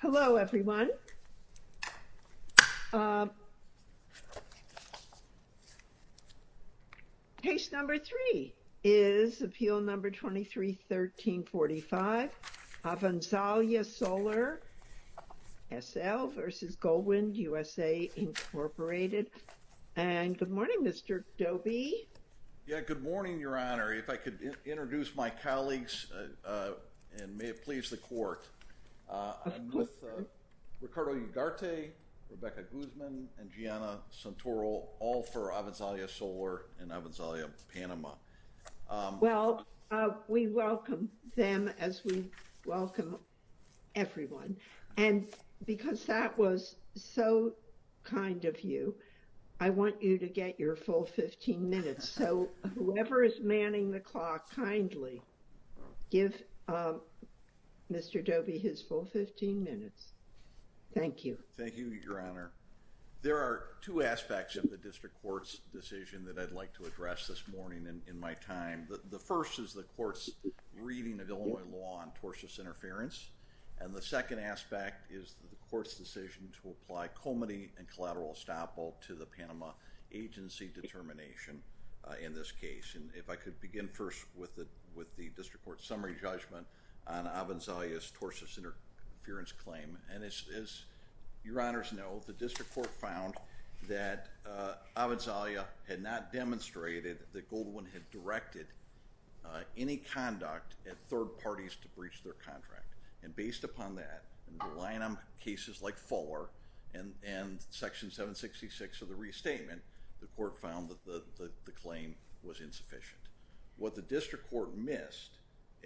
Hello, everyone. Case No. 3 is Appeal No. 23-1345, Avanzalia Solar, S.L. v. Goldwind USA, Inc. Good morning, Mr. Dobie. Yeah, good morning, Your Honor. If I could introduce my colleagues, and may it please the Court, I'm with Ricardo Ugarte, Rebecca Guzman, and Gianna Santoro, all for Avanzalia Solar and Avanzalia Panama. Well, we welcome them as we welcome everyone. And because that was so kind of you, I want you to get your full 15 minutes. So, whoever is manning the clock, kindly give Mr. Dobie his full 15 minutes. Thank you. Thank you, Your Honor. There are two aspects of the District Court's decision that I'd like to address this morning in my time. The first is the Court's reading of Illinois law on tortious interference, and the second aspect is the Court's decision to apply comity and collateral estoppel to the Panama agency determination in this case. And if I could begin first with the District Court's summary judgment on Avanzalia's tortious interference claim. And as Your Honors know, the District Court found that Avanzalia had not demonstrated that Goldwind had directed any conduct at Fuller, and Section 766 of the restatement, the Court found that the claim was insufficient. What the District Court missed,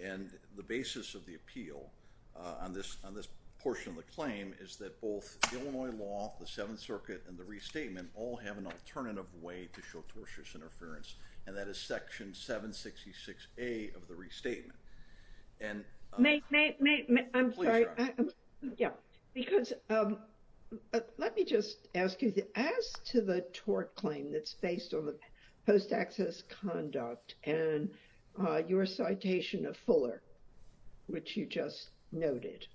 and the basis of the appeal on this portion of the claim is that both Illinois law, the Seventh Circuit, and the restatement all have an alternative way to show tortious interference, and that is Section 766A of the restatement. May, may, may, I'm sorry, yeah, because let me just ask you, as to the tort claim that's based on the post access conduct and your citation of Fuller, which you just noted.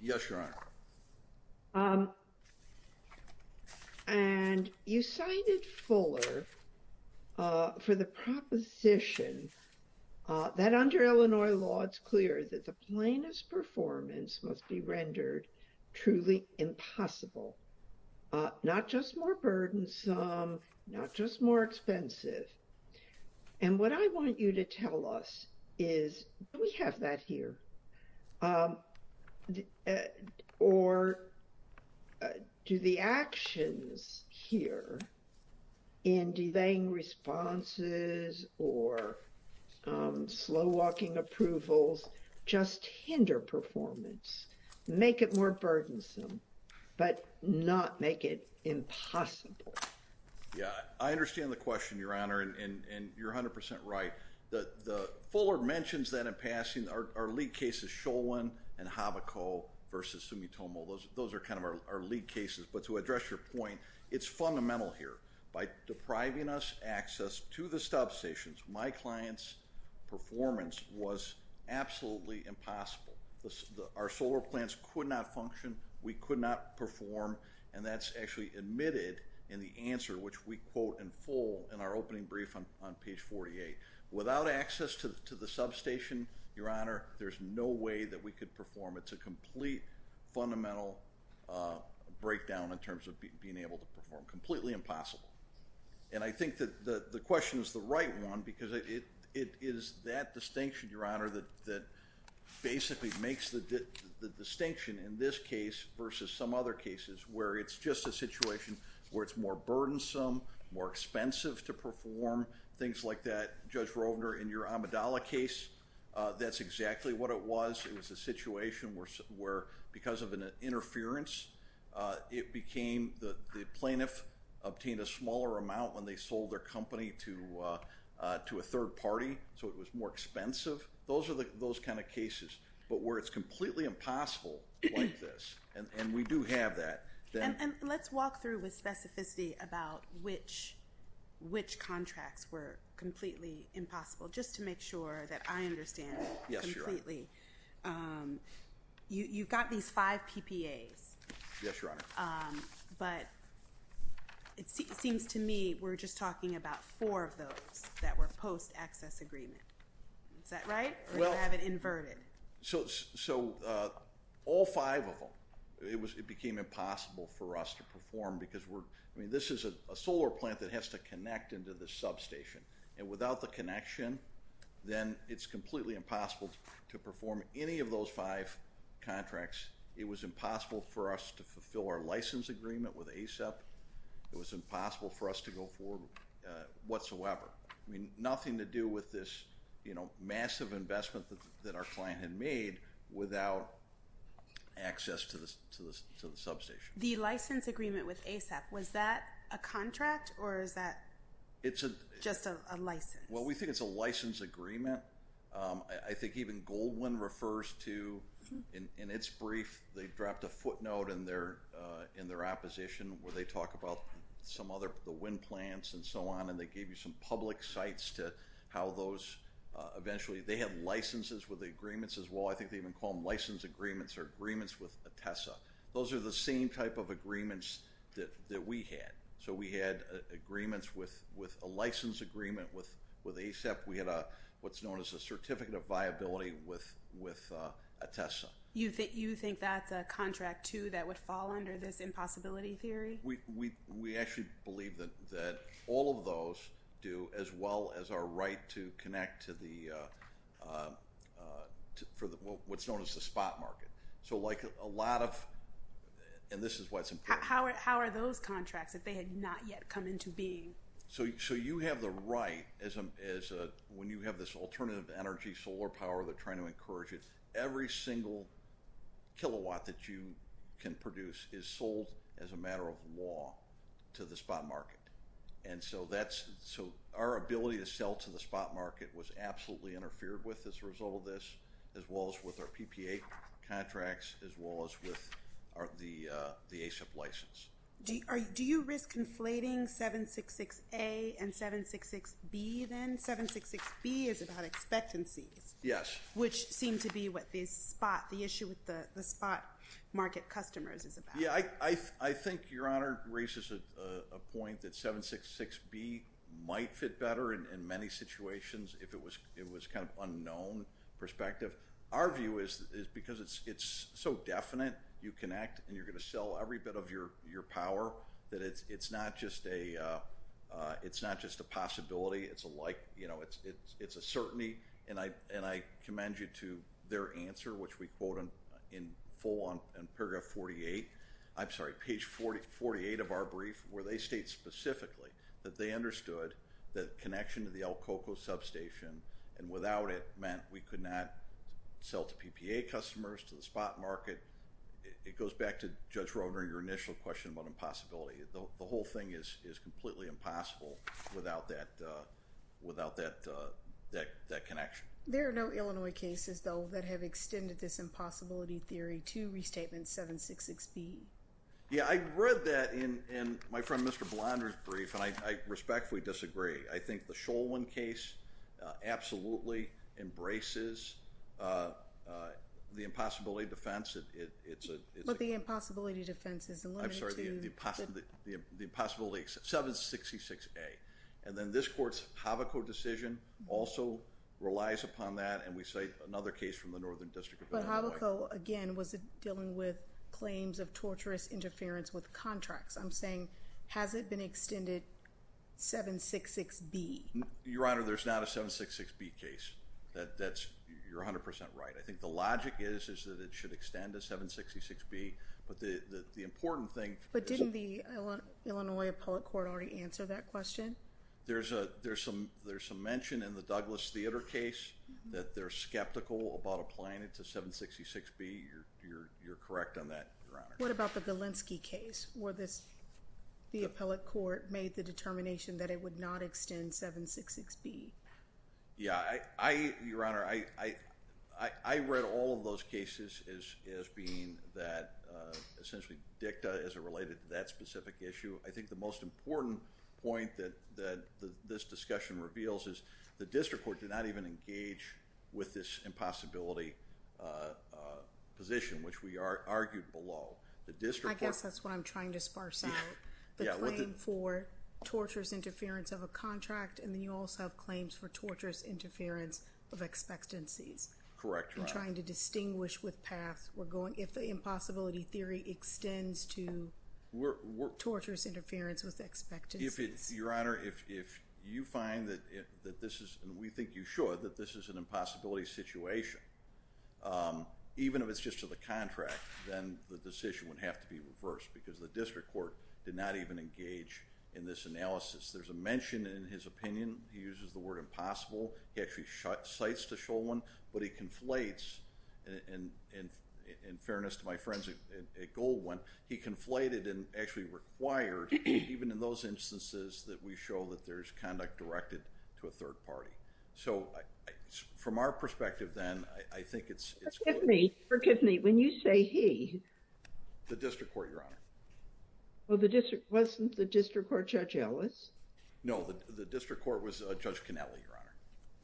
Yes, Your Honor. And you cited Fuller for the proposition that under Illinois law, it's clear that the plainest performance must be rendered truly impossible, not just more burdensome, not just more expensive. And what I want you to tell us is, do we have that here? Or do the actions here in delaying responses or slow walking approvals just hinder performance, make it more burdensome, but not make it impossible? Yeah, I understand the question, Your Honor, and you're 100% right. The Fuller mentions that in passing, our lead cases, Sholin and Havoco versus Sumitomo, those are kind of our lead cases, but to address your point, it's fundamental here. By depriving us access to the stop stations, my client's performance was absolutely impossible. Our solar plants could not function, we could not perform, and that's actually admitted in the answer, which we quote in full in our opening brief on page 48. Without access to the substation, Your Honor, there's no way that we could perform. It's a complete fundamental breakdown in terms of being able to perform. Completely impossible. And I think that the question is the right one because it is that distinction, Your Honor, that basically makes the distinction in this case versus some other cases where it's just a situation where it's more burdensome, more expensive to perform, things like that. Judge Rovner, in your Amidala case, that's exactly what it was. It was a situation where because of an interference, the plaintiff obtained a smaller amount when they sold their company to a third party, so it was more expensive. Those are those kind of cases, but where it's completely impossible like this, and we do have that. And let's walk through with specificity about which contracts were completely impossible, just to make sure that I understand completely. Yes, Your Honor. You've got these five PPAs. Yes, Your Honor. But it seems to me we're just talking about four of those that were post-access agreement. Is that right or do I have it inverted? So all five of them, it became impossible for us to perform because this is a solar plant that has to connect into this substation, and without the connection, then it's completely impossible to perform any of those five contracts. It was impossible for us to fulfill our license agreement with ASEP. It was impossible for us to go forward whatsoever. Nothing to do with this massive investment that our client had made without access to the substation. The license agreement with ASEP, was that a contract or is that just a license? Well, we think it's a license agreement. I think even Goldwyn refers to, in its brief, they dropped a footnote in their opposition where they talk about some other, the wind plants and so on, and they gave you some public sites to how those eventually, they have licenses with the agreements as well. I think they even call them license agreements or agreements with ATESA. Those are the same type of agreements that we had. So we had agreements with a license agreement with ASEP. We had what's known as a certificate of viability with ATESA. You think that's a contract, too, that would fall under this impossibility theory? We actually believe that all of those do, as well as our right to connect to what's known as the spot market. So like a lot of, and this is why it's important. How are those contracts, if they had not yet come into being? So you have the right, when you have this alternative energy solar power, they're trying to encourage it. Every single kilowatt that you can produce is sold as a matter of law to the spot market. And so our ability to sell to the spot market was absolutely interfered with as a result of this, as well as with our PPA contracts, as well as with the ASEP license. Do you risk inflating 766A and 766B then? 766B is about expectancies. Yes. Which seem to be what the spot, the issue with the spot market customers is about. Yeah, I think Your Honor raises a point that 766B might fit better in many situations if it was kind of unknown perspective. Our view is because it's so definite, you connect and you're going to sell every bit of your power, that it's not just a possibility, it's a like, you know, it's a certainty. And I commend you to their answer, which we quote in full on paragraph 48, I'm sorry, page 48 of our brief, where they state specifically that they understood that connection to the El Coco substation and without it meant we could not sell to PPA customers, to the spot market. It goes back to Judge Rohner, your initial question about impossibility. The whole thing is completely impossible without that connection. There are no Illinois cases, though, that have extended this impossibility theory to restatement 766B. Yeah, I read that in my friend Mr. Blonder's brief and I respectfully disagree. I think the Sholwin case absolutely embraces the impossibility defense. But the impossibility defense is limited to... I'm sorry, the impossibility, 766A. And then this court's Havocco decision also relies upon that and we cite another case from the Northern District of Illinois. But Havocco, again, was dealing with claims of torturous interference with contracts. I'm saying, has it been extended 766B? Your Honor, there's not a 766B case. That's, you're 100% right. The logic is that it should extend to 766B. But the important thing... But didn't the Illinois Appellate Court already answer that question? There's some mention in the Douglas Theater case that they're skeptical about applying it to 766B. You're correct on that, Your Honor. What about the Bilinski case where the Appellate Court made the determination that it would not extend 766B? Yeah, I... Your Honor, I read all of those cases as being that essentially dicta as it related to that specific issue. I think the most important point that this discussion reveals is the District Court did not even engage with this impossibility position, which we argued below. The District Court... I guess that's what I'm trying to sparse out. The claim for torturous interference of a contract, and then you also have claims for torturous interference of expectancies. Correct, Your Honor. I'm trying to distinguish with past. We're going... If the impossibility theory extends to torturous interference with expectancies. Your Honor, if you find that this is, and we think you should, that this is an impossibility situation, even if it's just to the contract, then the decision would have to be reversed because the District Court did not even engage in this analysis. There's a mention in his opinion. He uses the word impossible. He actually cites the show one, but he conflates, and in fairness to my friends at Goldwin, he conflated and actually required, even in those instances that we show that there's conduct directed to a third party. So, from our perspective then, I think it's... Forgive me. Forgive me. When you say he... The District Court, Your Honor. Well, the District... Wasn't the District Court Judge Ellis? No, the District Court was Judge Canelli, Your Honor.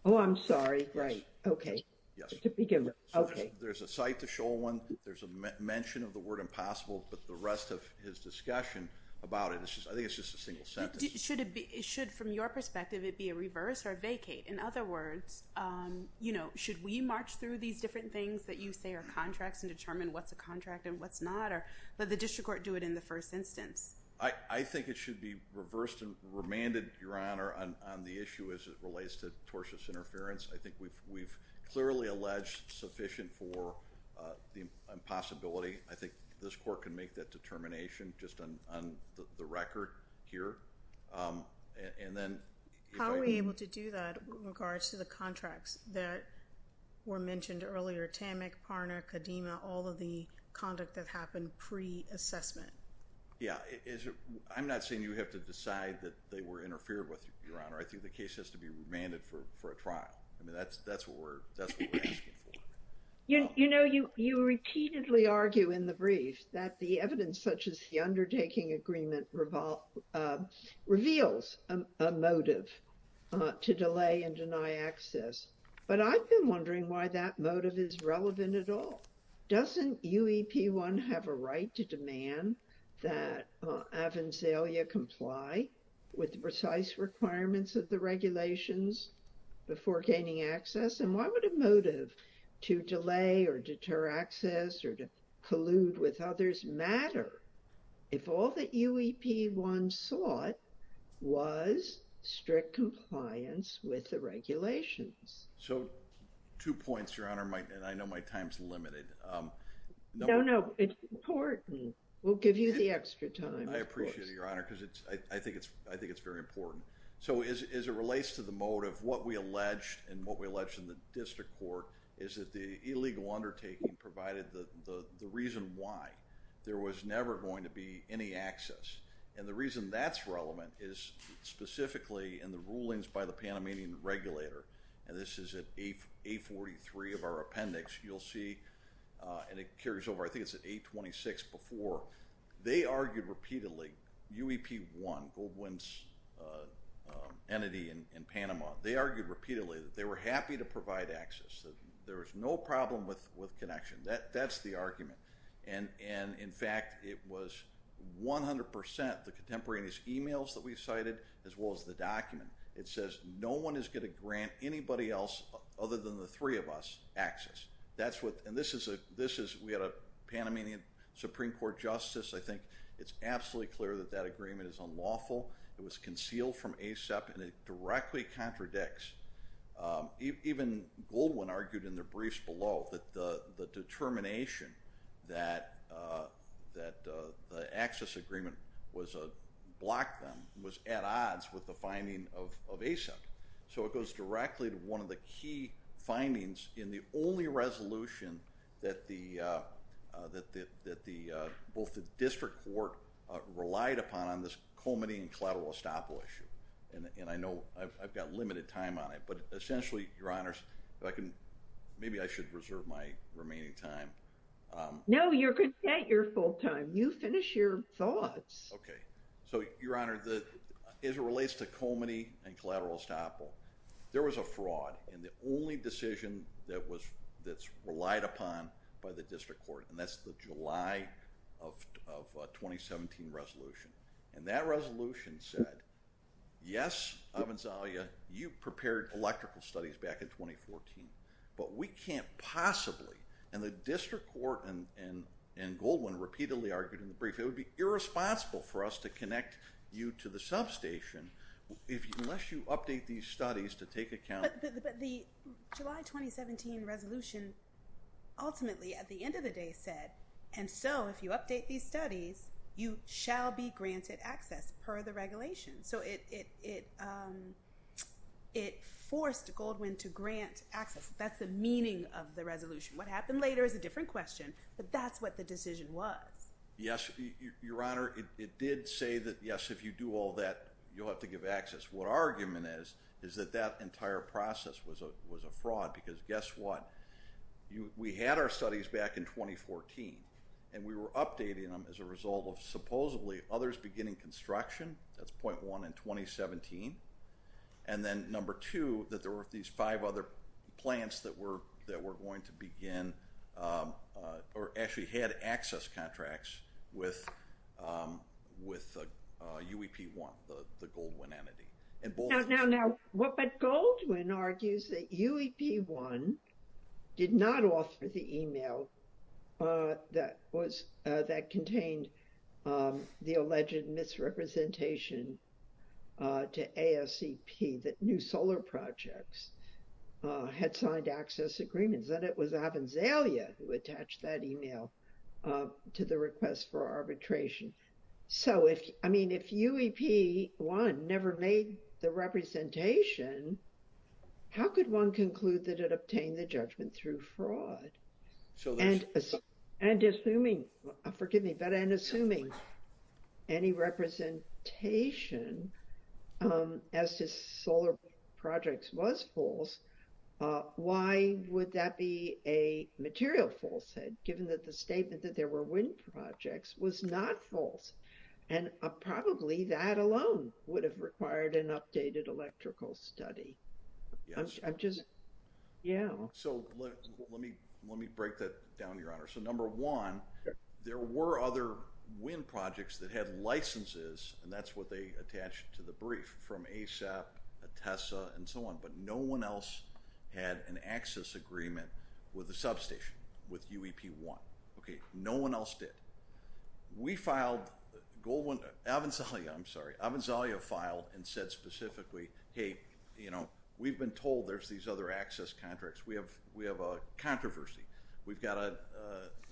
Oh, I'm sorry. Right. Okay. Yes. To begin with. Okay. There's a cite to show one. There's a mention of the word impossible, but the rest of his discussion about it, I think it's just a single sentence. Should it be... Should, from your perspective, it be a reverse or a vacate? In other words, should we march through these different things that you say are contracts and determine what's a contract and what's not, or let the District Court do it in the first instance? I think it should be reversed and remanded, Your Honor, on the issue as it relates to tortious interference. I think we've clearly alleged sufficient for the impossibility. I think this Court can make that determination just on the record here, and then... How are we able to do that with regards to the contracts that were mentioned earlier, TAMIC, Parna, Kadima, all of the conduct that happened pre-assessment? Yeah. I'm not saying you have to decide that they were interfered with, Your Honor. I think the case has to be remanded for a trial. I mean, that's what we're asking for. You know, you repeatedly argue in the brief that the evidence such as the undertaking agreement reveals a motive to delay and deny access. But I've been wondering why that motive is relevant at all. Doesn't UEP-1 have a right to demand that Avanzalia comply with the precise requirements of the regulations before gaining access? And why would a motive to delay or deter access or to collude with others matter if all that UEP-1 sought was strict compliance with the regulations? So, two points, Your Honor, and I know my time is limited. No, no. It's important. We'll give you the extra time, of course. I appreciate it, Your Honor, because I think it's very important. So, as it relates to the motive, what we alleged and what we alleged in the district court is that the illegal undertaking provided the reason why there was never going to be any access. And the reason that's relevant is specifically in the rulings by the Panamanian regulator. And this is at A-43 of our appendix. You'll see, and it carries over, I think it's at A-26 before. They argued repeatedly, UEP-1, Goldwyn's entity in Panama, they argued repeatedly that they were happy to provide access, that there was no problem with connection. That's the argument. And, in fact, it was 100 percent the contemporaneous emails that we've cited as well as the document. It says no one is going to grant anybody else, other than the three of us, access. That's what, and this is, we had a Panamanian Supreme Court justice. I think it's absolutely clear that that agreement is unlawful. It was concealed from ASEP, and it directly contradicts, even Goldwyn argued in the briefs below that the determination that the access agreement was, blocked them, was at odds with the finding of ASEP. So, it goes directly to one of the key findings in the only resolution that both the district court relied upon on this Colmeny and Cladwell-Estoppel issue. And I know I've got limited time on it, but essentially, Your Honors, if I can, maybe I should reserve my remaining time. No, you're content. You're full time. You finish your thoughts. Okay. So, Your Honor, as it relates to Colmeny and Cladwell-Estoppel, there was a fraud in the only decision that's relied upon by the district court, and that's the July of 2017 resolution. And that resolution said, yes, Avanzalia, you prepared electrical studies back in 2014, but we can't possibly, and the district court and Goldwyn repeatedly argued in the brief, it would be irresponsible for us to connect you to the substation unless you update these studies to take account. But the July 2017 resolution ultimately, at the end of the day, said, and so, if you update these studies, you shall be granted access per the regulation. So, it forced Goldwyn to grant access. That's the meaning of the resolution. What happened later is a different question, but that's what the decision was. Yes, Your Honor, it did say that, yes, if you do all that, you'll have to give access. What our argument is, is that that entire process was a fraud, because guess what? We had our studies back in 2014, and we were updating them as a result of supposedly others beginning construction, that's point one in 2017, and then number two, that there were these five other plants that were going to begin, or actually had access contracts with UEP-1, the Goldwyn entity. Now, but Goldwyn argues that UEP-1 did not offer the email that contained the alleged misrepresentation to ASCP that New Solar Projects had signed access agreements, that it was Avanzalia who attached that email to the request for arbitration. So, if, I mean, if UEP-1 never made the representation, how could one conclude that it obtained the judgment through fraud? And assuming, forgive me, but and assuming any representation as to Solar Projects was false, why would that be a material falsehood, given that the statement that there were wind projects was not false? And probably that alone would have required an updated electrical study. I'm just, yeah. So, let me break that down, Your Honor. So, number one, there were other wind projects that had licenses, and that's what they attached to the brief, from ASAP, TESSA, and so on, but no one else had an access agreement with the substation, with UEP-1. Okay, no one else did. We filed, Goldwyn, Avanzalia, I'm sorry, Avanzalia filed and said specifically, hey, you know, we've been told there's these other access contracts. We have a controversy. We've got to,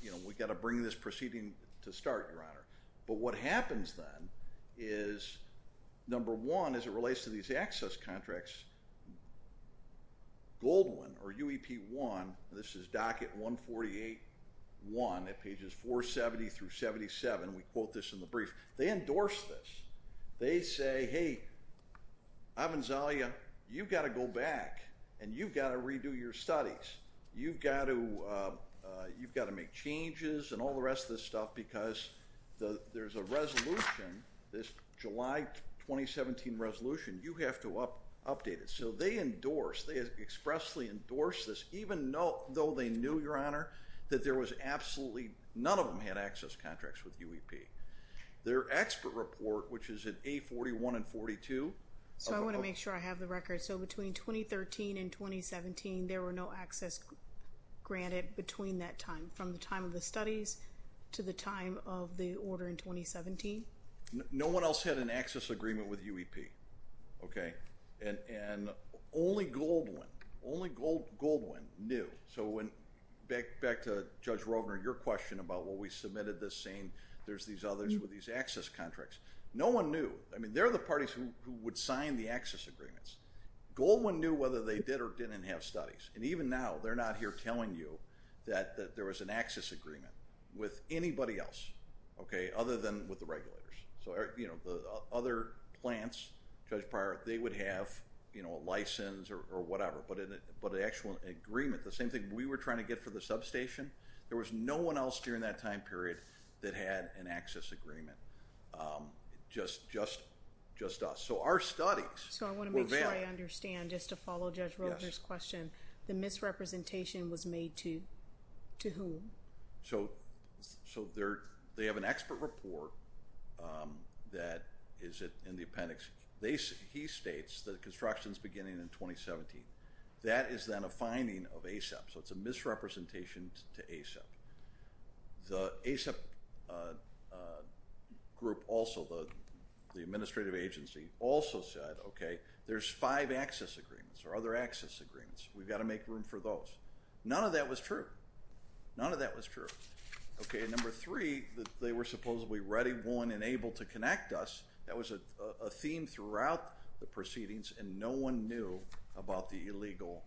you know, we've got to bring this proceeding to start, Your Honor. But what happens then is, number one, as it relates to these access contracts, Goldwyn or UEP-1, this is docket 148-1 at pages 470 through 77, we quote this in the brief, they endorse this. They say, hey, Avanzalia, you've got to go back and you've got to redo your studies. You've got to make changes and all the rest of this stuff because there's a resolution, this July 2017 resolution, you have to update it. So, they endorse, they expressly endorse this, even though they knew, Your Honor, that there was absolutely, none of them had access contracts with UEP. Their expert report, which is in A41 and 42. So, I want to make sure I have the record. So, between 2013 and 2017, there were no access granted between that time, from the time of the studies to the time of the order in 2017? No one else had an access agreement with UEP, okay? And only Goldwyn, only Goldwyn knew. So, back to Judge Rogner, your question about what we submitted this saying, there's these others with these access contracts. No one knew. I mean, they're the parties who would sign the access agreements. Goldwyn knew whether they did or didn't have studies. And even now, they're not here telling you that there was an access agreement with anybody else, okay, other than with the regulators. So, the other plants, Judge Pryor, they would have a license or whatever. But an actual agreement, the same thing we were trying to get for the substation, there was no one else during that time period that had an access agreement, just us. So, our studies were valid. So, I want to make sure I understand, just to follow Judge Rogner's question, the misrepresentation was made to whom? So, they have an expert report that is in the appendix. He states that construction is beginning in 2017. That is then a finding of ASAP. So, it's a misrepresentation to ASAP. The ASAP group also, the administrative agency, also said, okay, there's five access agreements or other access agreements. We've got to make room for those. None of that was true. None of that was true, okay. And number three, they were supposedly ready, won, and able to connect us. That was a theme throughout the proceedings. And no one knew about the illegal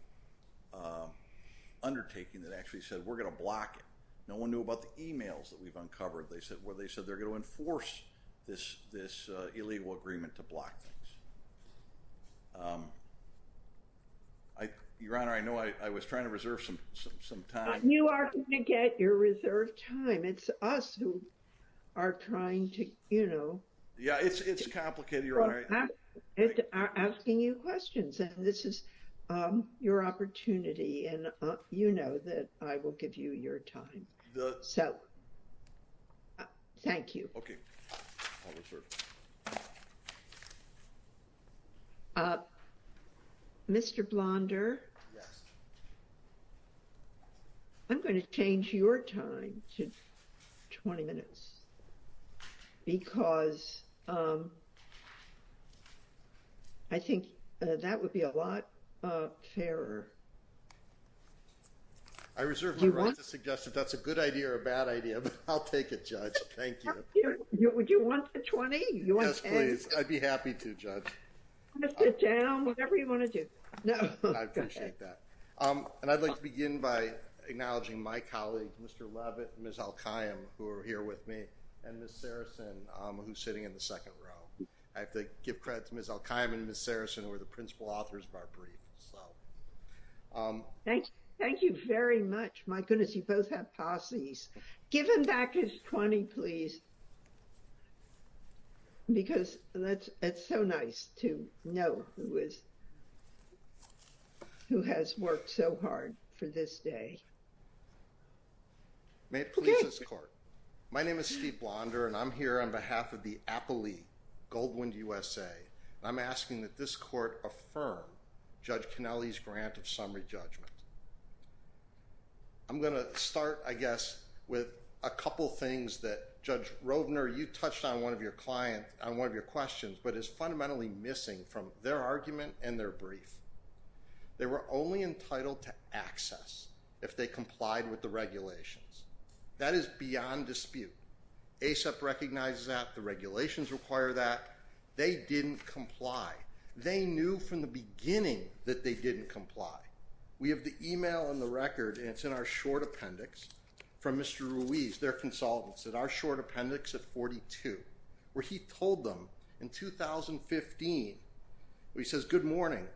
undertaking that actually said, we're going to block it. No one knew about the emails that we've uncovered. They said, well, they said they're going to enforce this illegal agreement to block things. Your Honor, I know I was trying to reserve some time. But you are going to get your reserved time. It's us who are trying to, you know. Yeah, it's complicated, Your Honor. We're asking you questions. And this is your opportunity. And you know that I will give you your time. So, thank you. Mr. Blonder. I'm going to change your time to 20 minutes. Because I think that would be a lot fairer. I reserve the right to suggest if that's a good idea or a bad idea. But I'll take it, Judge. Thank you. Would you want the 20? Yes, please. I'd be happy to, Judge. Sit down, whatever you want to do. No, I appreciate that. And I'd like to begin by acknowledging my colleague, Mr. Levitt, Ms. Al-Qa'im, who are here with me. And Ms. Saracen, who's sitting in the second row. I have to give credit to Ms. Al-Qa'im and Ms. Saracen, who are the principal authors of our brief. Thank you very much. My goodness, you both have posse's. Give him back his 20, please. Because it's so nice to know who has worked so hard for this day. May it please this court. My name is Steve Blonder. And I'm here on behalf of the Appley Goldwind USA. I'm asking that this court affirm Judge Cannelli's grant of summary judgment. I'm going to start, I guess, with a couple things that Judge Rovner, you touched on one of your questions, but is fundamentally missing from their argument and their brief. They were only entitled to access if they complied with the regulations. That is beyond dispute. ASAP recognizes that. The regulations require that. They didn't comply. They knew from the beginning that they didn't comply. We have the email and the record, and it's in our short appendix from Mr. Ruiz, their consultants, at our short appendix at 42, where he told them in 2015, he says, good morning,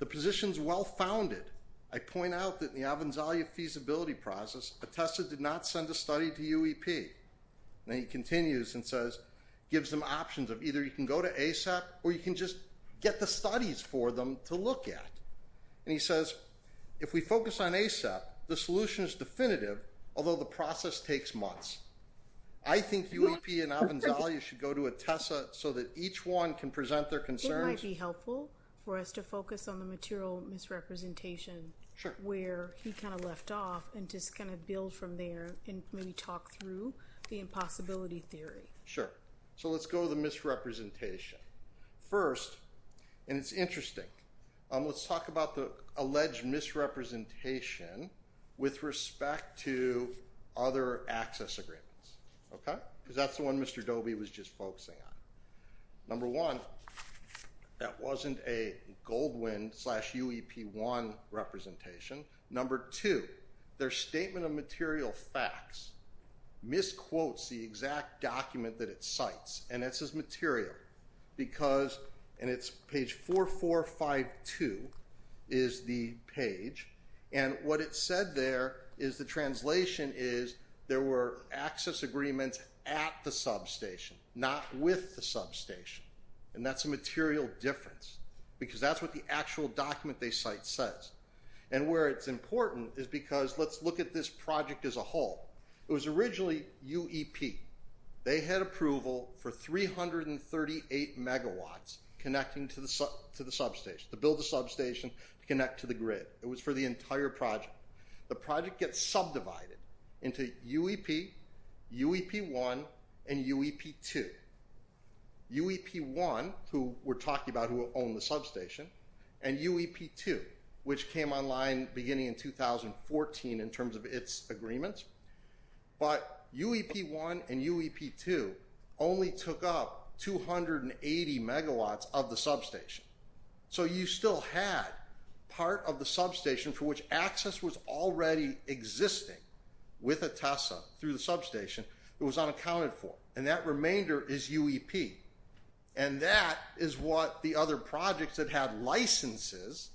the position's well-founded. I point out that the Avanzalia feasibility process, ATESA did not send a study to UEP. And he continues and says, gives them options of either you can go to ASAP or you can just get the studies for them to look at. And he says, if we focus on ASAP, the solution is definitive, although the process takes months. I think UEP and Avanzalia should go to ATESA so that each one can present their concerns. It might be helpful for us to focus on the material misrepresentation where he kind of left off and just kind of build from there and maybe talk through the impossibility theory. Sure. So let's go to the misrepresentation first. And it's interesting. Let's talk about the alleged misrepresentation with respect to other access agreements, okay? Because that's the one Mr. Doby was just focusing on. Number one, that wasn't a Goldwin slash UEP one representation. Number two, their statement of material facts misquotes the exact document that it cites. And it says material because, and it's page 4452 is the page. And what it said there is the translation is there were access agreements at the substation, not with the substation. And that's a material difference because that's what the actual document they cite says. And where it's important is because let's look at this project as a whole. It was originally UEP. They had approval for 338 megawatts connecting to the substation, to build a substation, to connect to the grid. It was for the entire project. The project gets subdivided into UEP, UEP one, and UEP two. UEP one, who we're talking about who owned the substation, and UEP two, which came online beginning in 2014 in terms of its agreements. But UEP one and UEP two only took up 280 megawatts of the substation. So you still had part of the substation for which access was already existing with a TESA through the substation. It was unaccounted for. And that remainder is UEP. And that is what the other projects that had licenses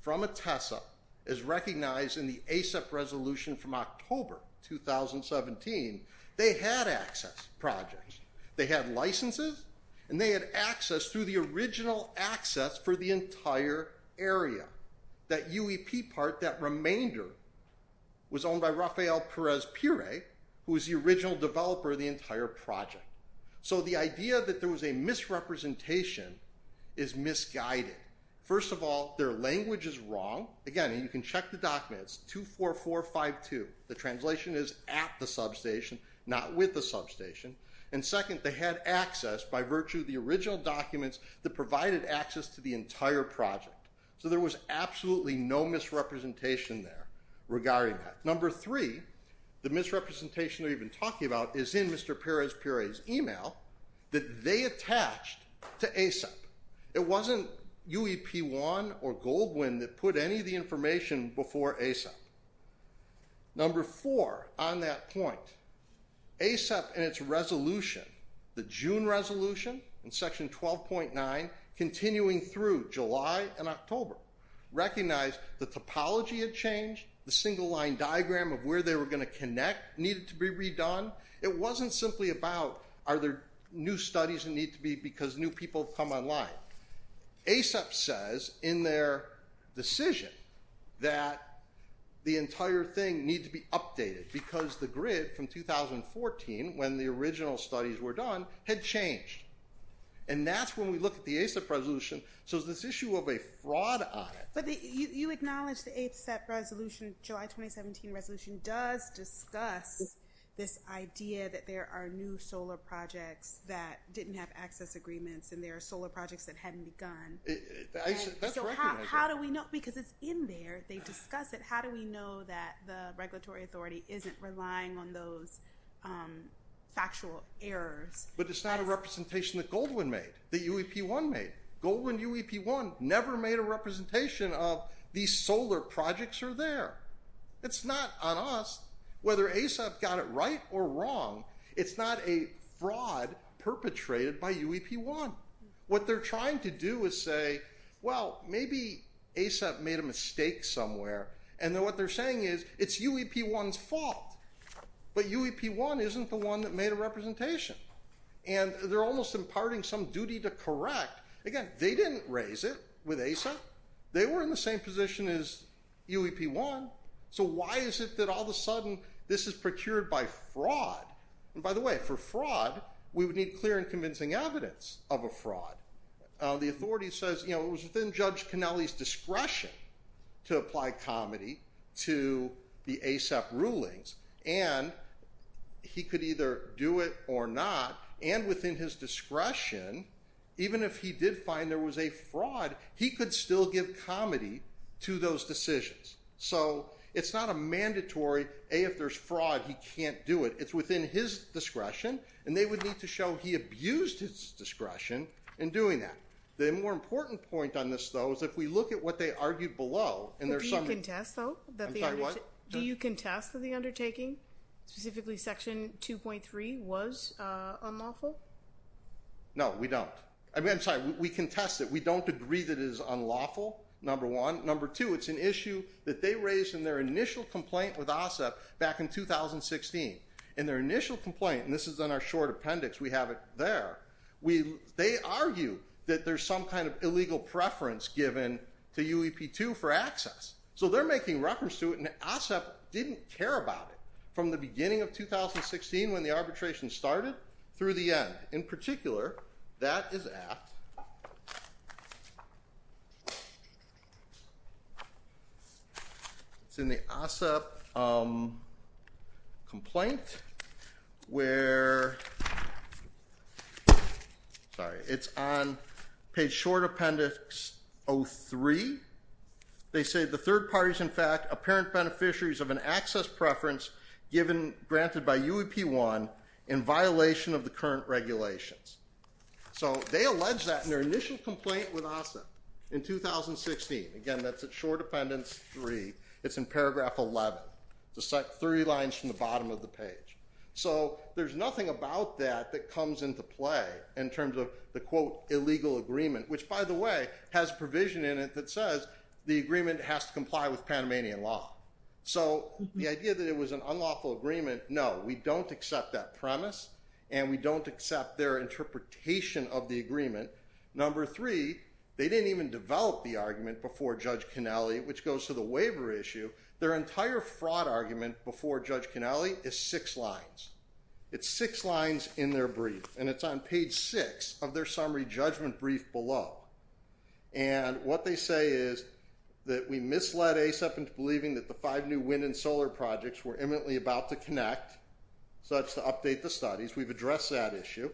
from a TESA is recognized in the ASAP resolution from October 2017. They had access projects. They had licenses and they had access through the original access for the entire area that UEP part, that remainder was owned by Rafael Perez Pire, who was the original developer of the entire project. So the idea that there was a misrepresentation is misguided. First of all, their language is wrong. Again, you can check the documents, 24452. The translation is at the substation, not with the substation. And second, they had access by virtue of the original documents that provided access to the entire project. So there was absolutely no misrepresentation there regarding that. Number three, the misrepresentation that we've been talking about is in Mr. Perez Pire's email that they attached to ASAP. It wasn't UEP one or Goldwin that put any of the information before ASAP. Number four on that point, ASAP and its resolution, the June resolution in section 12.9, continuing through July and October, recognized the topology had changed, the single line diagram of where they were going to connect needed to be redone. It wasn't simply about are there new studies that need to be because new people come online. ASAP says in their decision that the entire thing needs to be updated because the grid from 2014, when the original studies were done, had changed. And that's when we look at the ASAP resolution. So there's this issue of a fraud on it. But you acknowledge the ASAP resolution, July 2017 resolution, does discuss this idea that there are new solar projects that didn't have access agreements. And there are solar projects that hadn't begun. So how do we know? Because it's in there. They discuss it. How do we know that the regulatory authority isn't relying on those factual errors? But it's not a representation that Goldman made, that UEP-1 made. Goldman and UEP-1 never made a representation of these solar projects are there. It's not on us. Whether ASAP got it right or wrong, it's not a fraud perpetrated by UEP-1. What they're trying to do is say, well, maybe ASAP made a mistake somewhere. And then what they're saying is it's UEP-1's fault. But UEP-1 isn't the one that made a representation. And they're almost imparting some duty to correct. Again, they didn't raise it with ASAP. They were in the same position as UEP-1. So why is it that all of a sudden, this is procured by fraud? And by the way, for fraud, we would need clear and convincing evidence of a fraud. The authority says it was within Judge Kennelly's discretion to apply comedy to the ASAP rulings. And he could either do it or not. And within his discretion, even if he did find there was a fraud, he could still give comedy to those decisions. So it's not a mandatory, A, if there's fraud, he can't do it. It's within his discretion. And they would need to show he abused his discretion in doing that. The more important point on this, though, is if we look at what they argued below, and there's some- Do you contest, though? I'm sorry, what? Do you contest that the undertaking, specifically section 2.3, was unlawful? No, we don't. I mean, I'm sorry, we contest it. We don't agree that it is unlawful, number one. Number two, it's an issue that they raised in their initial complaint with ASAP back in 2016. In their initial complaint, and this is in our short appendix, we have it there, they argue that there's some kind of illegal preference given to UEP-2 for access. So they're making reference to it, and ASAP didn't care about it from the beginning of 2016 when the arbitration started through the end. In particular, that is at, it's in the ASAP complaint, where, sorry, it's on page short appendix 03. They say, the third party's, in fact, apparent beneficiaries of an access preference given, granted by UEP-1 in violation of the current regulations. So they allege that in their initial complaint with ASAP in 2016. Again, that's at short appendix 3. It's in paragraph 11, three lines from the bottom of the page. So there's nothing about that that comes into play in terms of the, quote, illegal agreement, which, by the way, has a provision in it that says the agreement has to comply with Panamanian law. So the idea that it was an unlawful agreement, no, we don't accept that premise, and we don't accept their interpretation of the agreement. Number three, they didn't even develop the argument before Judge Cannelli, which goes to the waiver issue. Their entire fraud argument before Judge Cannelli is six lines. It's six lines in their brief, and it's on page six of their summary judgment brief below. And what they say is that we misled ASAP into believing that the five new wind and solar projects were imminently about to connect, such to update the studies. We've addressed that issue.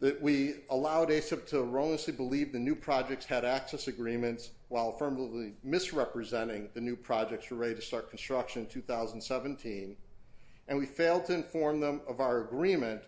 That we allowed ASAP to erroneously believe the new projects had access agreements while affirmatively misrepresenting the new projects were ready to start construction in 2017. And we failed to inform them of our agreement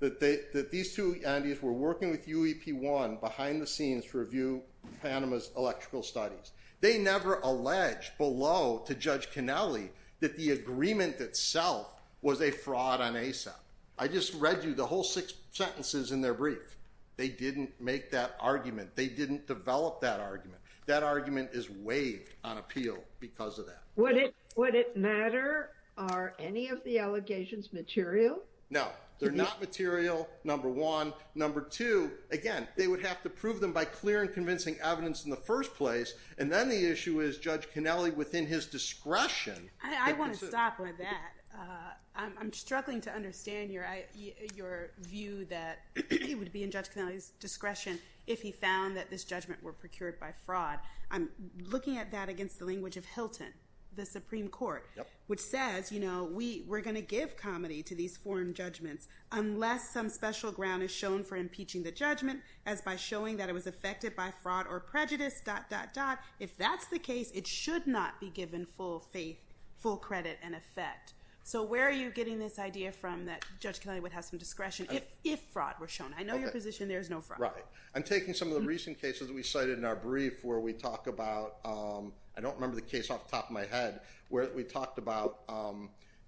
that these two entities were working with UEP-1 behind the scenes to review Panama's electrical studies. They never alleged below to Judge Cannelli that the agreement itself was a fraud on ASAP. I just read you the whole six sentences in their brief. They didn't make that argument. They didn't develop that argument. That argument is waived on appeal because of that. Would it matter? Are any of the allegations material? No, they're not material, number one. Number two, again, they would have to prove them by clear and convincing evidence in the first place. And then the issue is Judge Cannelli within his discretion. I want to stop with that. I'm struggling to understand your view that he would be in Judge Cannelli's discretion if he found that this judgment were procured by fraud. I'm looking at that against the language of Hilton, the Supreme Court, which says we're going to give comedy to these foreign judgments unless some special ground is shown for impeaching the judgment as by showing that it was affected by fraud or prejudice, dot, dot, dot. If that's the case, it should not be given full faith, full credit, and effect. So where are you getting this idea from that Judge Cannelli would have some discretion if fraud were shown? I know your position. There is no fraud. Right. I'm taking some of the recent cases we cited in our brief where we talk about, I don't remember the case off the top of my head, where we talked about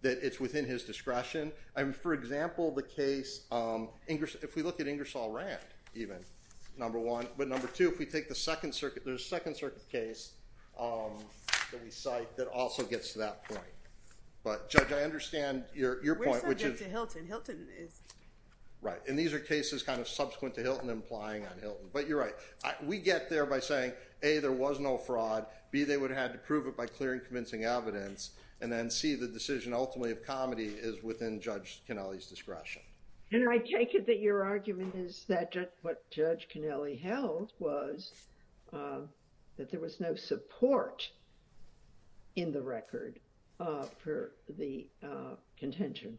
that it's within his discretion. For example, the case, if we look at Ingersoll-Rand, even, number one. But number two, if we take the Second Circuit, there's a Second Circuit case that we cite that also gets to that point. But Judge, I understand your point, which is- We're subject to Hilton. Hilton is- Right. And these are cases kind of subsequent to Hilton implying on Hilton. But you're right. We get there by saying, A, there was no fraud. B, they would have had to prove it by clearing convincing evidence. And then C, the decision ultimately of comedy is within Judge Kennelly's discretion. And I take it that your argument is that what Judge Kennelly held was that there was no support in the record for the contention,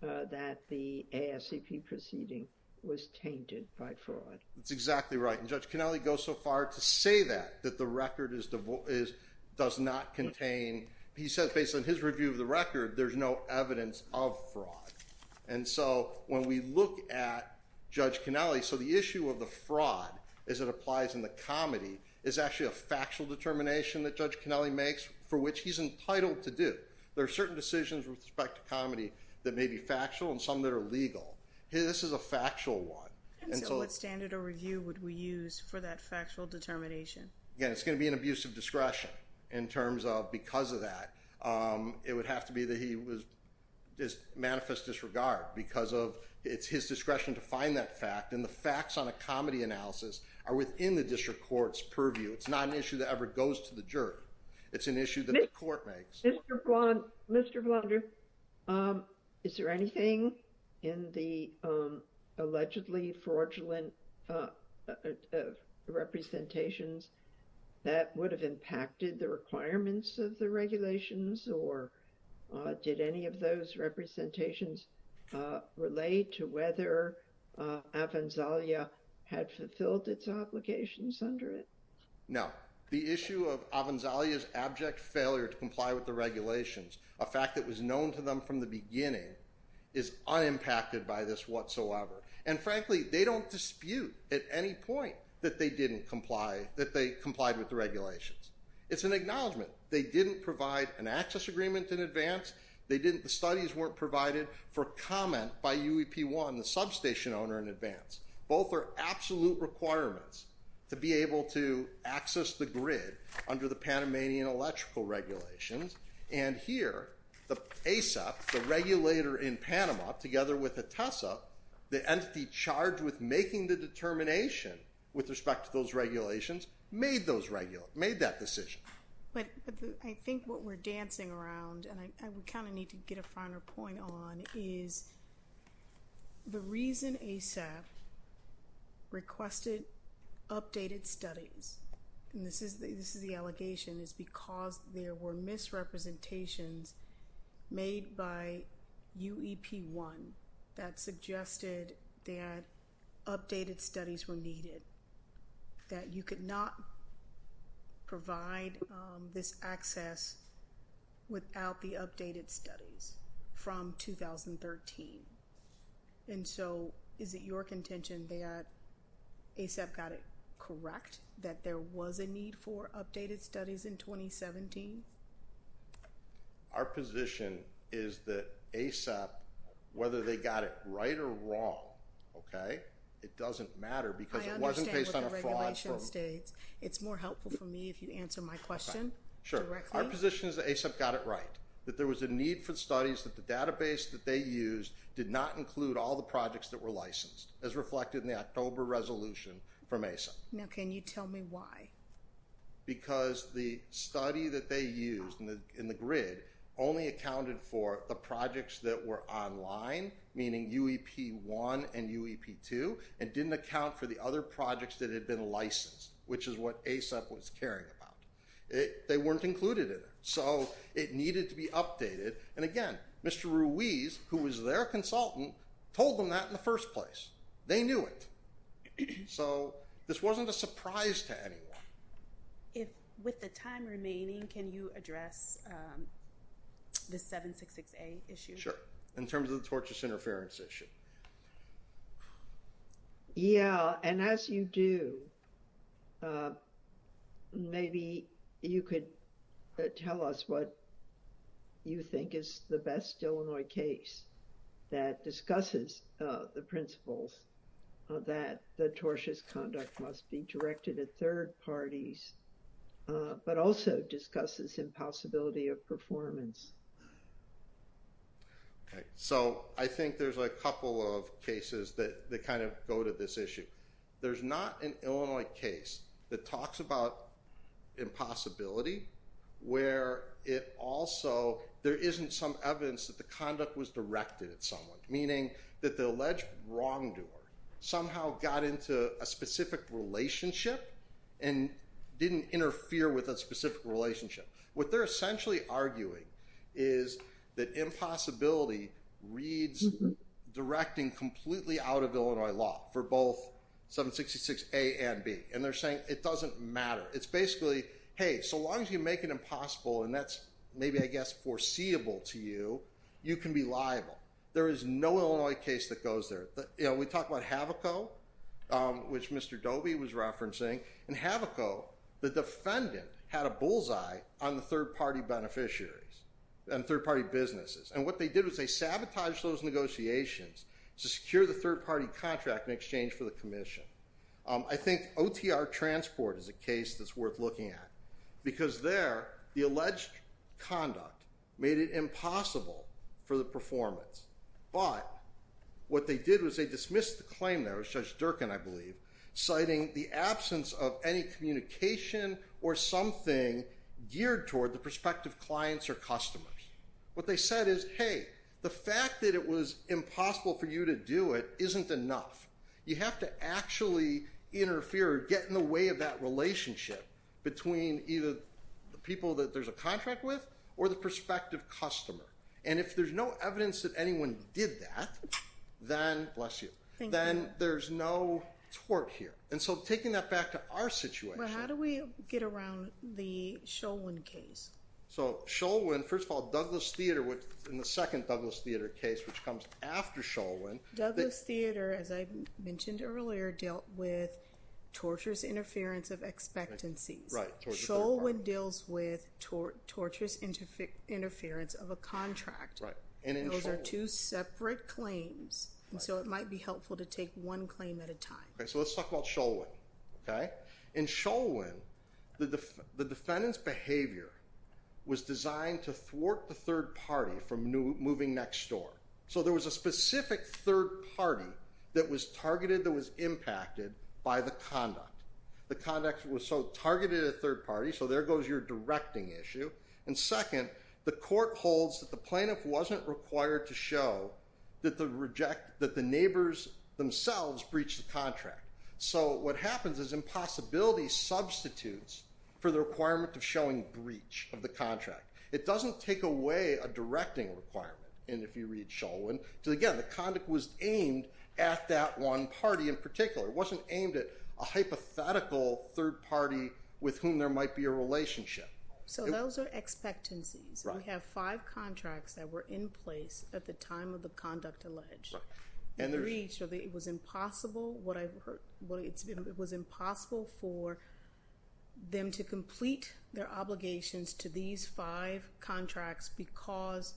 that the ASCP proceeding was tainted by fraud. That's exactly right. And Judge Kennelly goes so far to say that, that the record does not contain. He says, based on his review of the record, there's no evidence of fraud. And so when we look at Judge Kennelly, so the issue of the fraud as it applies in the comedy is actually a factual determination that Judge Kennelly makes for which he's entitled to do. There are certain decisions with respect to comedy that may be factual and some that are legal. This is a factual one. And so what standard or review would we use for that factual determination? Again, it's going to be an abuse of discretion in terms of because of that, it would have to be that he was just manifest disregard because of it's his discretion to find that fact. And the facts on a comedy analysis are within the district court's purview. It's not an issue that ever goes to the jury. It's an issue that the court makes. Mr. Blunder, is there anything in the allegedly fraudulent representations that would have impacted the requirements of the regulations? Or did any of those representations relate to whether Avanzalia had fulfilled its obligations under it? No, the issue of Avanzalia's abject failure to comply with the regulations, a fact that was known to them from the beginning is unimpacted by this whatsoever. And frankly, they don't dispute at any point that they complied with the regulations. It's an acknowledgement. They didn't provide an access agreement in advance. They didn't, the studies weren't provided for comment by UEP1, the substation owner in advance. Both are absolute requirements to be able to access the grid under the Panamanian electrical regulations. And here, the ASAP, the regulator in Panama, together with the TESA, the entity charged with making the determination with respect to those regulations made that decision. But I think what we're dancing around, and I would kind of need to get a finer point on, is the reason ASAP requested updated studies, and this is the allegation, is because there were misrepresentations made by UEP1 that suggested that updated studies were needed, that you could not provide this access without the updated studies from 2013. And so is it your contention that ASAP got it correct, that there was a need for updated studies in 2017? Our position is that ASAP, whether they got it right or wrong, okay, it doesn't matter, because it wasn't based on a fraud. I understand what the regulation states. It's more helpful for me if you answer my question directly. Sure, our position is that ASAP got it right, that there was a need for studies that the database that they used did not include all the projects that were licensed, as reflected in the October resolution from ASAP. Now, can you tell me why? Because the study that they used in the grid only accounted for the projects that were online, meaning UEP1 and UEP2, and didn't account for the other projects that had been licensed, which is what ASAP was caring about. They weren't included in it, so it needed to be updated. And again, Mr. Ruiz, who was their consultant, told them that in the first place. They knew it. So this wasn't a surprise to anyone. With the time remaining, can you address the 766A issue? Sure, in terms of the tortious interference issue. Yeah, and as you do, maybe you could tell us what you think is the best Illinois case that discusses the principles that the tortious conduct must be directed at third parties, but also discusses impossibility of performance. So I think there's a couple of cases that kind of go to this issue. There's not an Illinois case that talks about impossibility, where it also, there isn't some evidence that the conduct was directed at someone, meaning that the alleged wrongdoer somehow got into a specific relationship and didn't interfere with a specific relationship. What they're essentially arguing is that impossibility reads directing completely out of Illinois law for both 766A and B. And they're saying it doesn't matter. It's basically, hey, so long as you make it impossible, and that's maybe, I guess, foreseeable to you, you can be liable. There is no Illinois case that goes there. We talked about Havoco, which Mr. Doby was referencing. In Havoco, the defendant had a bullseye on the third-party beneficiaries. And third-party businesses. And what they did was they sabotaged those negotiations to secure the third-party contract in exchange for the commission. I think OTR Transport is a case that's worth looking at. Because there, the alleged conduct made it impossible for the performance. But what they did was they dismissed the claim there, it was Judge Durkin, I believe, citing the absence of any communication or something geared toward the prospective clients or customers. What they said is, hey, the fact that it was impossible for you to do it isn't enough. You have to actually interfere or get in the way of that relationship between either the people that there's a contract with or the prospective customer. And if there's no evidence that anyone did that, then, bless you, then there's no twerk here. And so taking that back to our situation. How do we get around the Shulwin case? So Shulwin, first of all, Douglas Theater, which in the second Douglas Theater case, which comes after Shulwin. Douglas Theater, as I mentioned earlier, dealt with torturous interference of expectancies. Shulwin deals with torturous interference of a contract. Those are two separate claims. And so it might be helpful to take one claim at a time. So let's talk about Shulwin. In Shulwin, the defendant's behavior was designed to thwart the third party from moving next door. So there was a specific third party that was targeted, that was impacted by the conduct. The conduct was so targeted at third party, so there goes your directing issue. And second, the court holds that the neighbors themselves breached the contract. So what happens is impossibility substitutes for the requirement of showing breach of the contract. It doesn't take away a directing requirement. And if you read Shulwin, again, the conduct was aimed at that one party in particular. It wasn't aimed at a hypothetical third party with whom there might be a relationship. So those are expectancies. We have five contracts that were in place at the time of the conduct alleged. And the reason it was impossible, it was impossible for them to complete their obligations to these five contracts because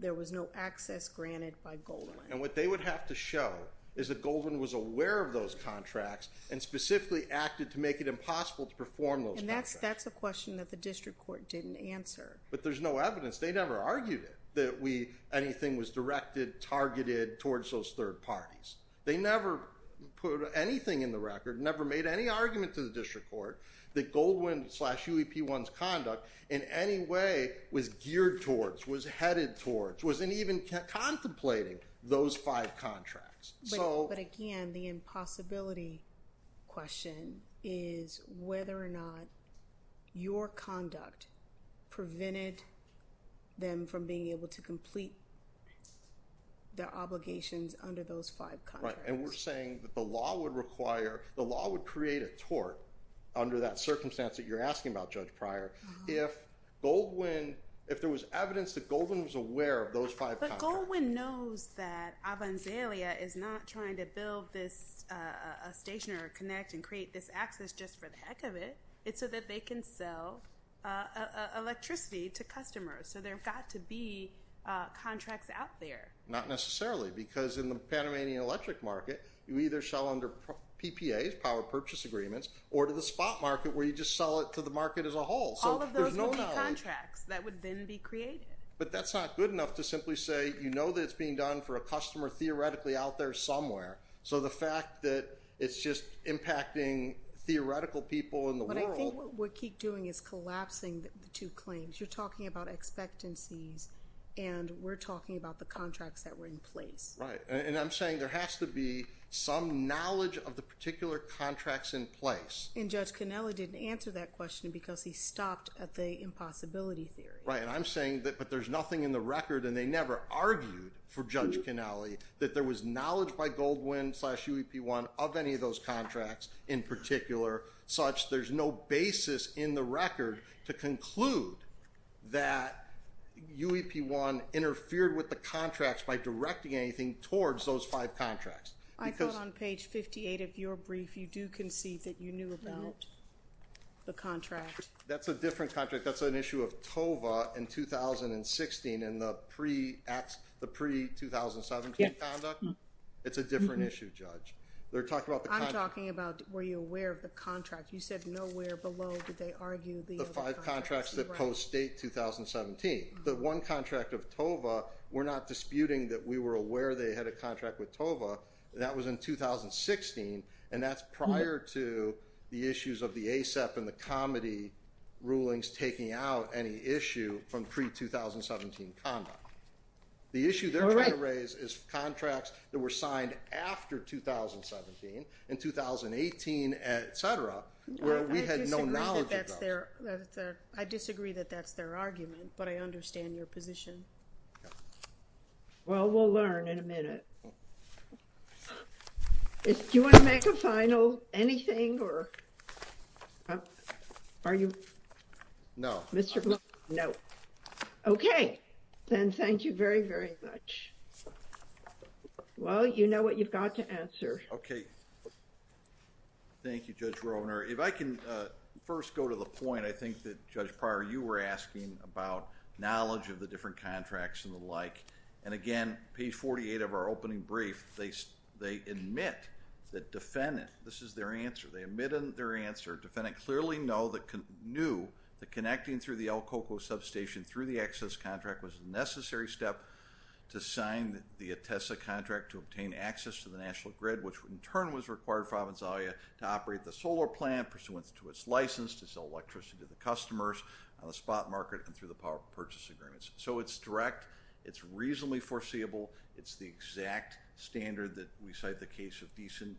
there was no access granted by Goldwyn. And what they would have to show is that Goldwyn was aware of those contracts and specifically acted to make it impossible to perform those contracts. That's a question that the district court didn't answer. But there's no evidence. They never argued that anything was directed, targeted towards those third parties. They never put anything in the record, never made any argument to the district court that Goldwyn slash UEP1's conduct in any way was geared towards, was headed towards, wasn't even contemplating those five contracts. So- But again, the impossibility question is whether or not your conduct prevented them from being able to complete their obligations under those five contracts. Right, and we're saying that the law would require, the law would create a tort under that circumstance that you're asking about, Judge Pryor. If Goldwyn, if there was evidence that Goldwyn was aware of those five contracts- But Goldwyn knows that Avanzalia is not trying to build this station or connect and create this access just for the heck of it. It's so that they can sell electricity to customers. So there've got to be contracts out there. Not necessarily, because in the Panamanian electric market, you either sell under PPAs, Power Purchase Agreements, or to the spot market where you just sell it to the market as a whole. All of those would be contracts that would then be created. But that's not good enough to simply say, you know that it's being done for a customer theoretically out there somewhere. So the fact that it's just impacting theoretical people in the world- But I think what we keep doing is collapsing the two claims. You're talking about expectancies and we're talking about the contracts that were in place. Right, and I'm saying there has to be some knowledge of the particular contracts in place. And Judge Cannelli didn't answer that question because he stopped at the impossibility theory. Right, and I'm saying that, but there's nothing in the record, and they never argued for Judge Cannelli that there was knowledge by Goldwyn slash UEP-1 of any of those contracts in particular, such there's no basis in the record to conclude that UEP-1 interfered with the contracts by directing anything towards those five contracts. I thought on page 58 of your brief, you do concede that you knew about the contract. That's a different contract. That's an issue of TOVA in 2016 and the pre-2017 conduct. It's a different issue, Judge. They're talking about the contract- I'm talking about, were you aware of the contract? You said nowhere below did they argue- Five contracts that post-date 2017. The one contract of TOVA, we're not disputing that we were aware they had a contract with TOVA. That was in 2016, and that's prior to the issues of the ASEP and the COMETI rulings taking out any issue from pre-2017 conduct. The issue they're trying to raise is contracts that were signed after 2017, in 2018, et cetera, where we had no knowledge of those. I disagree that that's their argument, but I understand your position. Well, we'll learn in a minute. Do you want to make a final, anything or? Are you? No. Mr. Brown? No. Okay. Then, thank you very, very much. Well, you know what you've got to answer. Okay. Thank you, Judge Rohner. If I can first go to the point, I think that Judge Pryor, you were asking about knowledge of the different contracts and the like. And again, page 48 of our opening brief, they admit that defendant, this is their answer. They admit their answer. Defendant clearly knew that connecting through the El Coco substation through the access contract was a necessary step to sign the ATESA contract to obtain access to the national grid, which in turn was required for Avenzalea to operate the solar plant pursuant to its license to sell electricity to the customers on the spot market and through the power purchase agreements. So it's direct, it's reasonably foreseeable. It's the exact standard that we cite the case of Deason.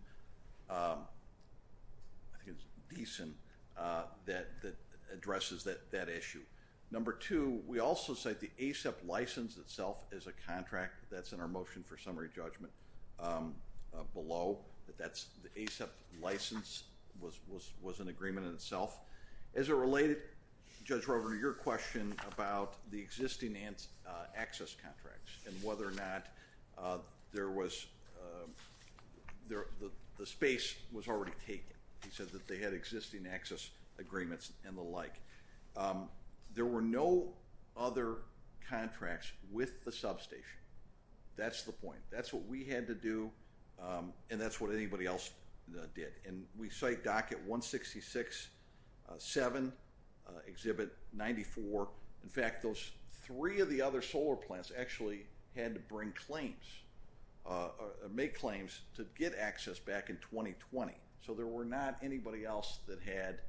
I think it's Deason that addresses that issue. Number two, we also cite the ASAP license itself as a contract that's in our motion for summary judgment below. The ASAP license was an agreement in itself. As it related, Judge Rover, to your question about the existing access contracts and whether or not the space was already taken. He said that they had existing access agreements and the like. There were no other contracts with the substation. That's the point. That's what we had to do. And that's what anybody else did. And we cite docket 166-7, exhibit 94. In fact, those three of the other solar plants actually had to bring claims, make claims to get access back in 2020. So there were not anybody else that had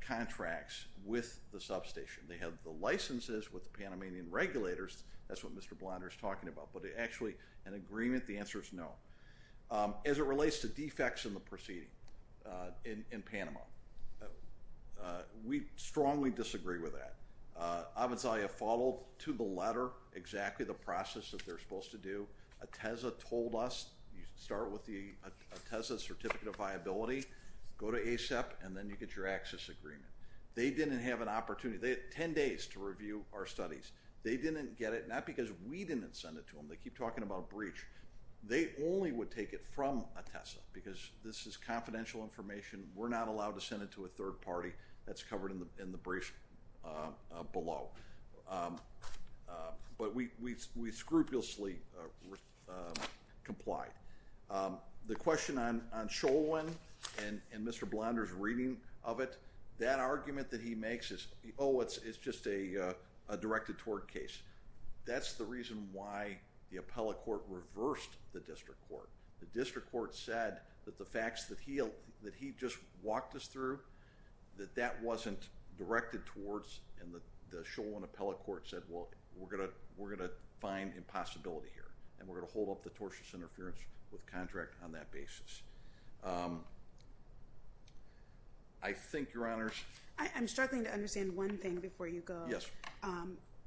contracts with the substation. They had the licenses with the Panamanian regulators. That's what Mr. Blonder is talking about. Actually, an agreement, the answer is no. As it relates to defects in the proceeding in Panama, we strongly disagree with that. I would say I followed to the letter exactly the process that they're supposed to do. A TESA told us you start with the TESA certificate of viability, go to ASAP, and then you get your access agreement. They didn't have an opportunity. They had 10 days to review our studies. They didn't get it, not because we didn't send it to them, they keep talking about breach. They only would take it from a TESA because this is confidential information. We're not allowed to send it to a third party. That's covered in the brief below. But we scrupulously complied. The question on Cholwin and Mr. Blonder's reading of it, that argument that he makes is, oh, it's just a directed tort case. That's the reason why the appellate court reversed the district court. The district court said that the facts that he just walked us through, that that wasn't directed towards, and the Cholwin appellate court said, well, we're going to find impossibility here. And we're going to hold off the tortious interference with contract on that basis. I think, Your Honors. I'm struggling to understand one thing before you go. Yes.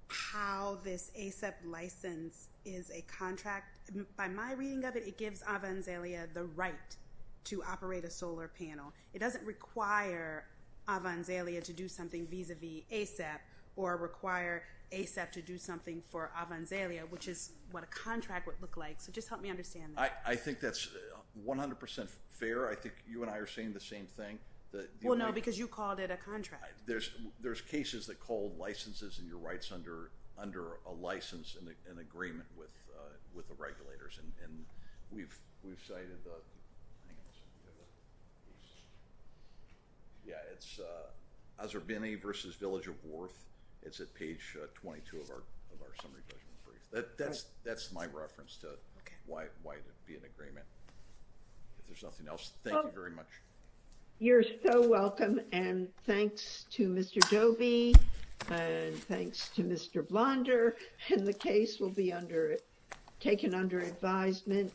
How this ASAP license is a contract. By my reading of it, it gives Avanzalia the right to operate a solar panel. It doesn't require Avanzalia to do something vis-a-vis ASAP or require ASAP to do something for Avanzalia, which is what a contract would look like. So just help me understand that. I think that's 100% fair. I think you and I are saying the same thing. Well, no, because you called it a contract. There's cases that call licenses and your rights under a license in agreement with the regulators. And we've cited, yeah, it's Azarbini versus Village of Worth. It's at page 22 of our summary judgment brief. That's my reference to why it would be an agreement. If there's nothing else, thank you very much. You're so welcome. And thanks to Mr. Dobie and thanks to Mr. Blonder. And the case will be taken under advisement.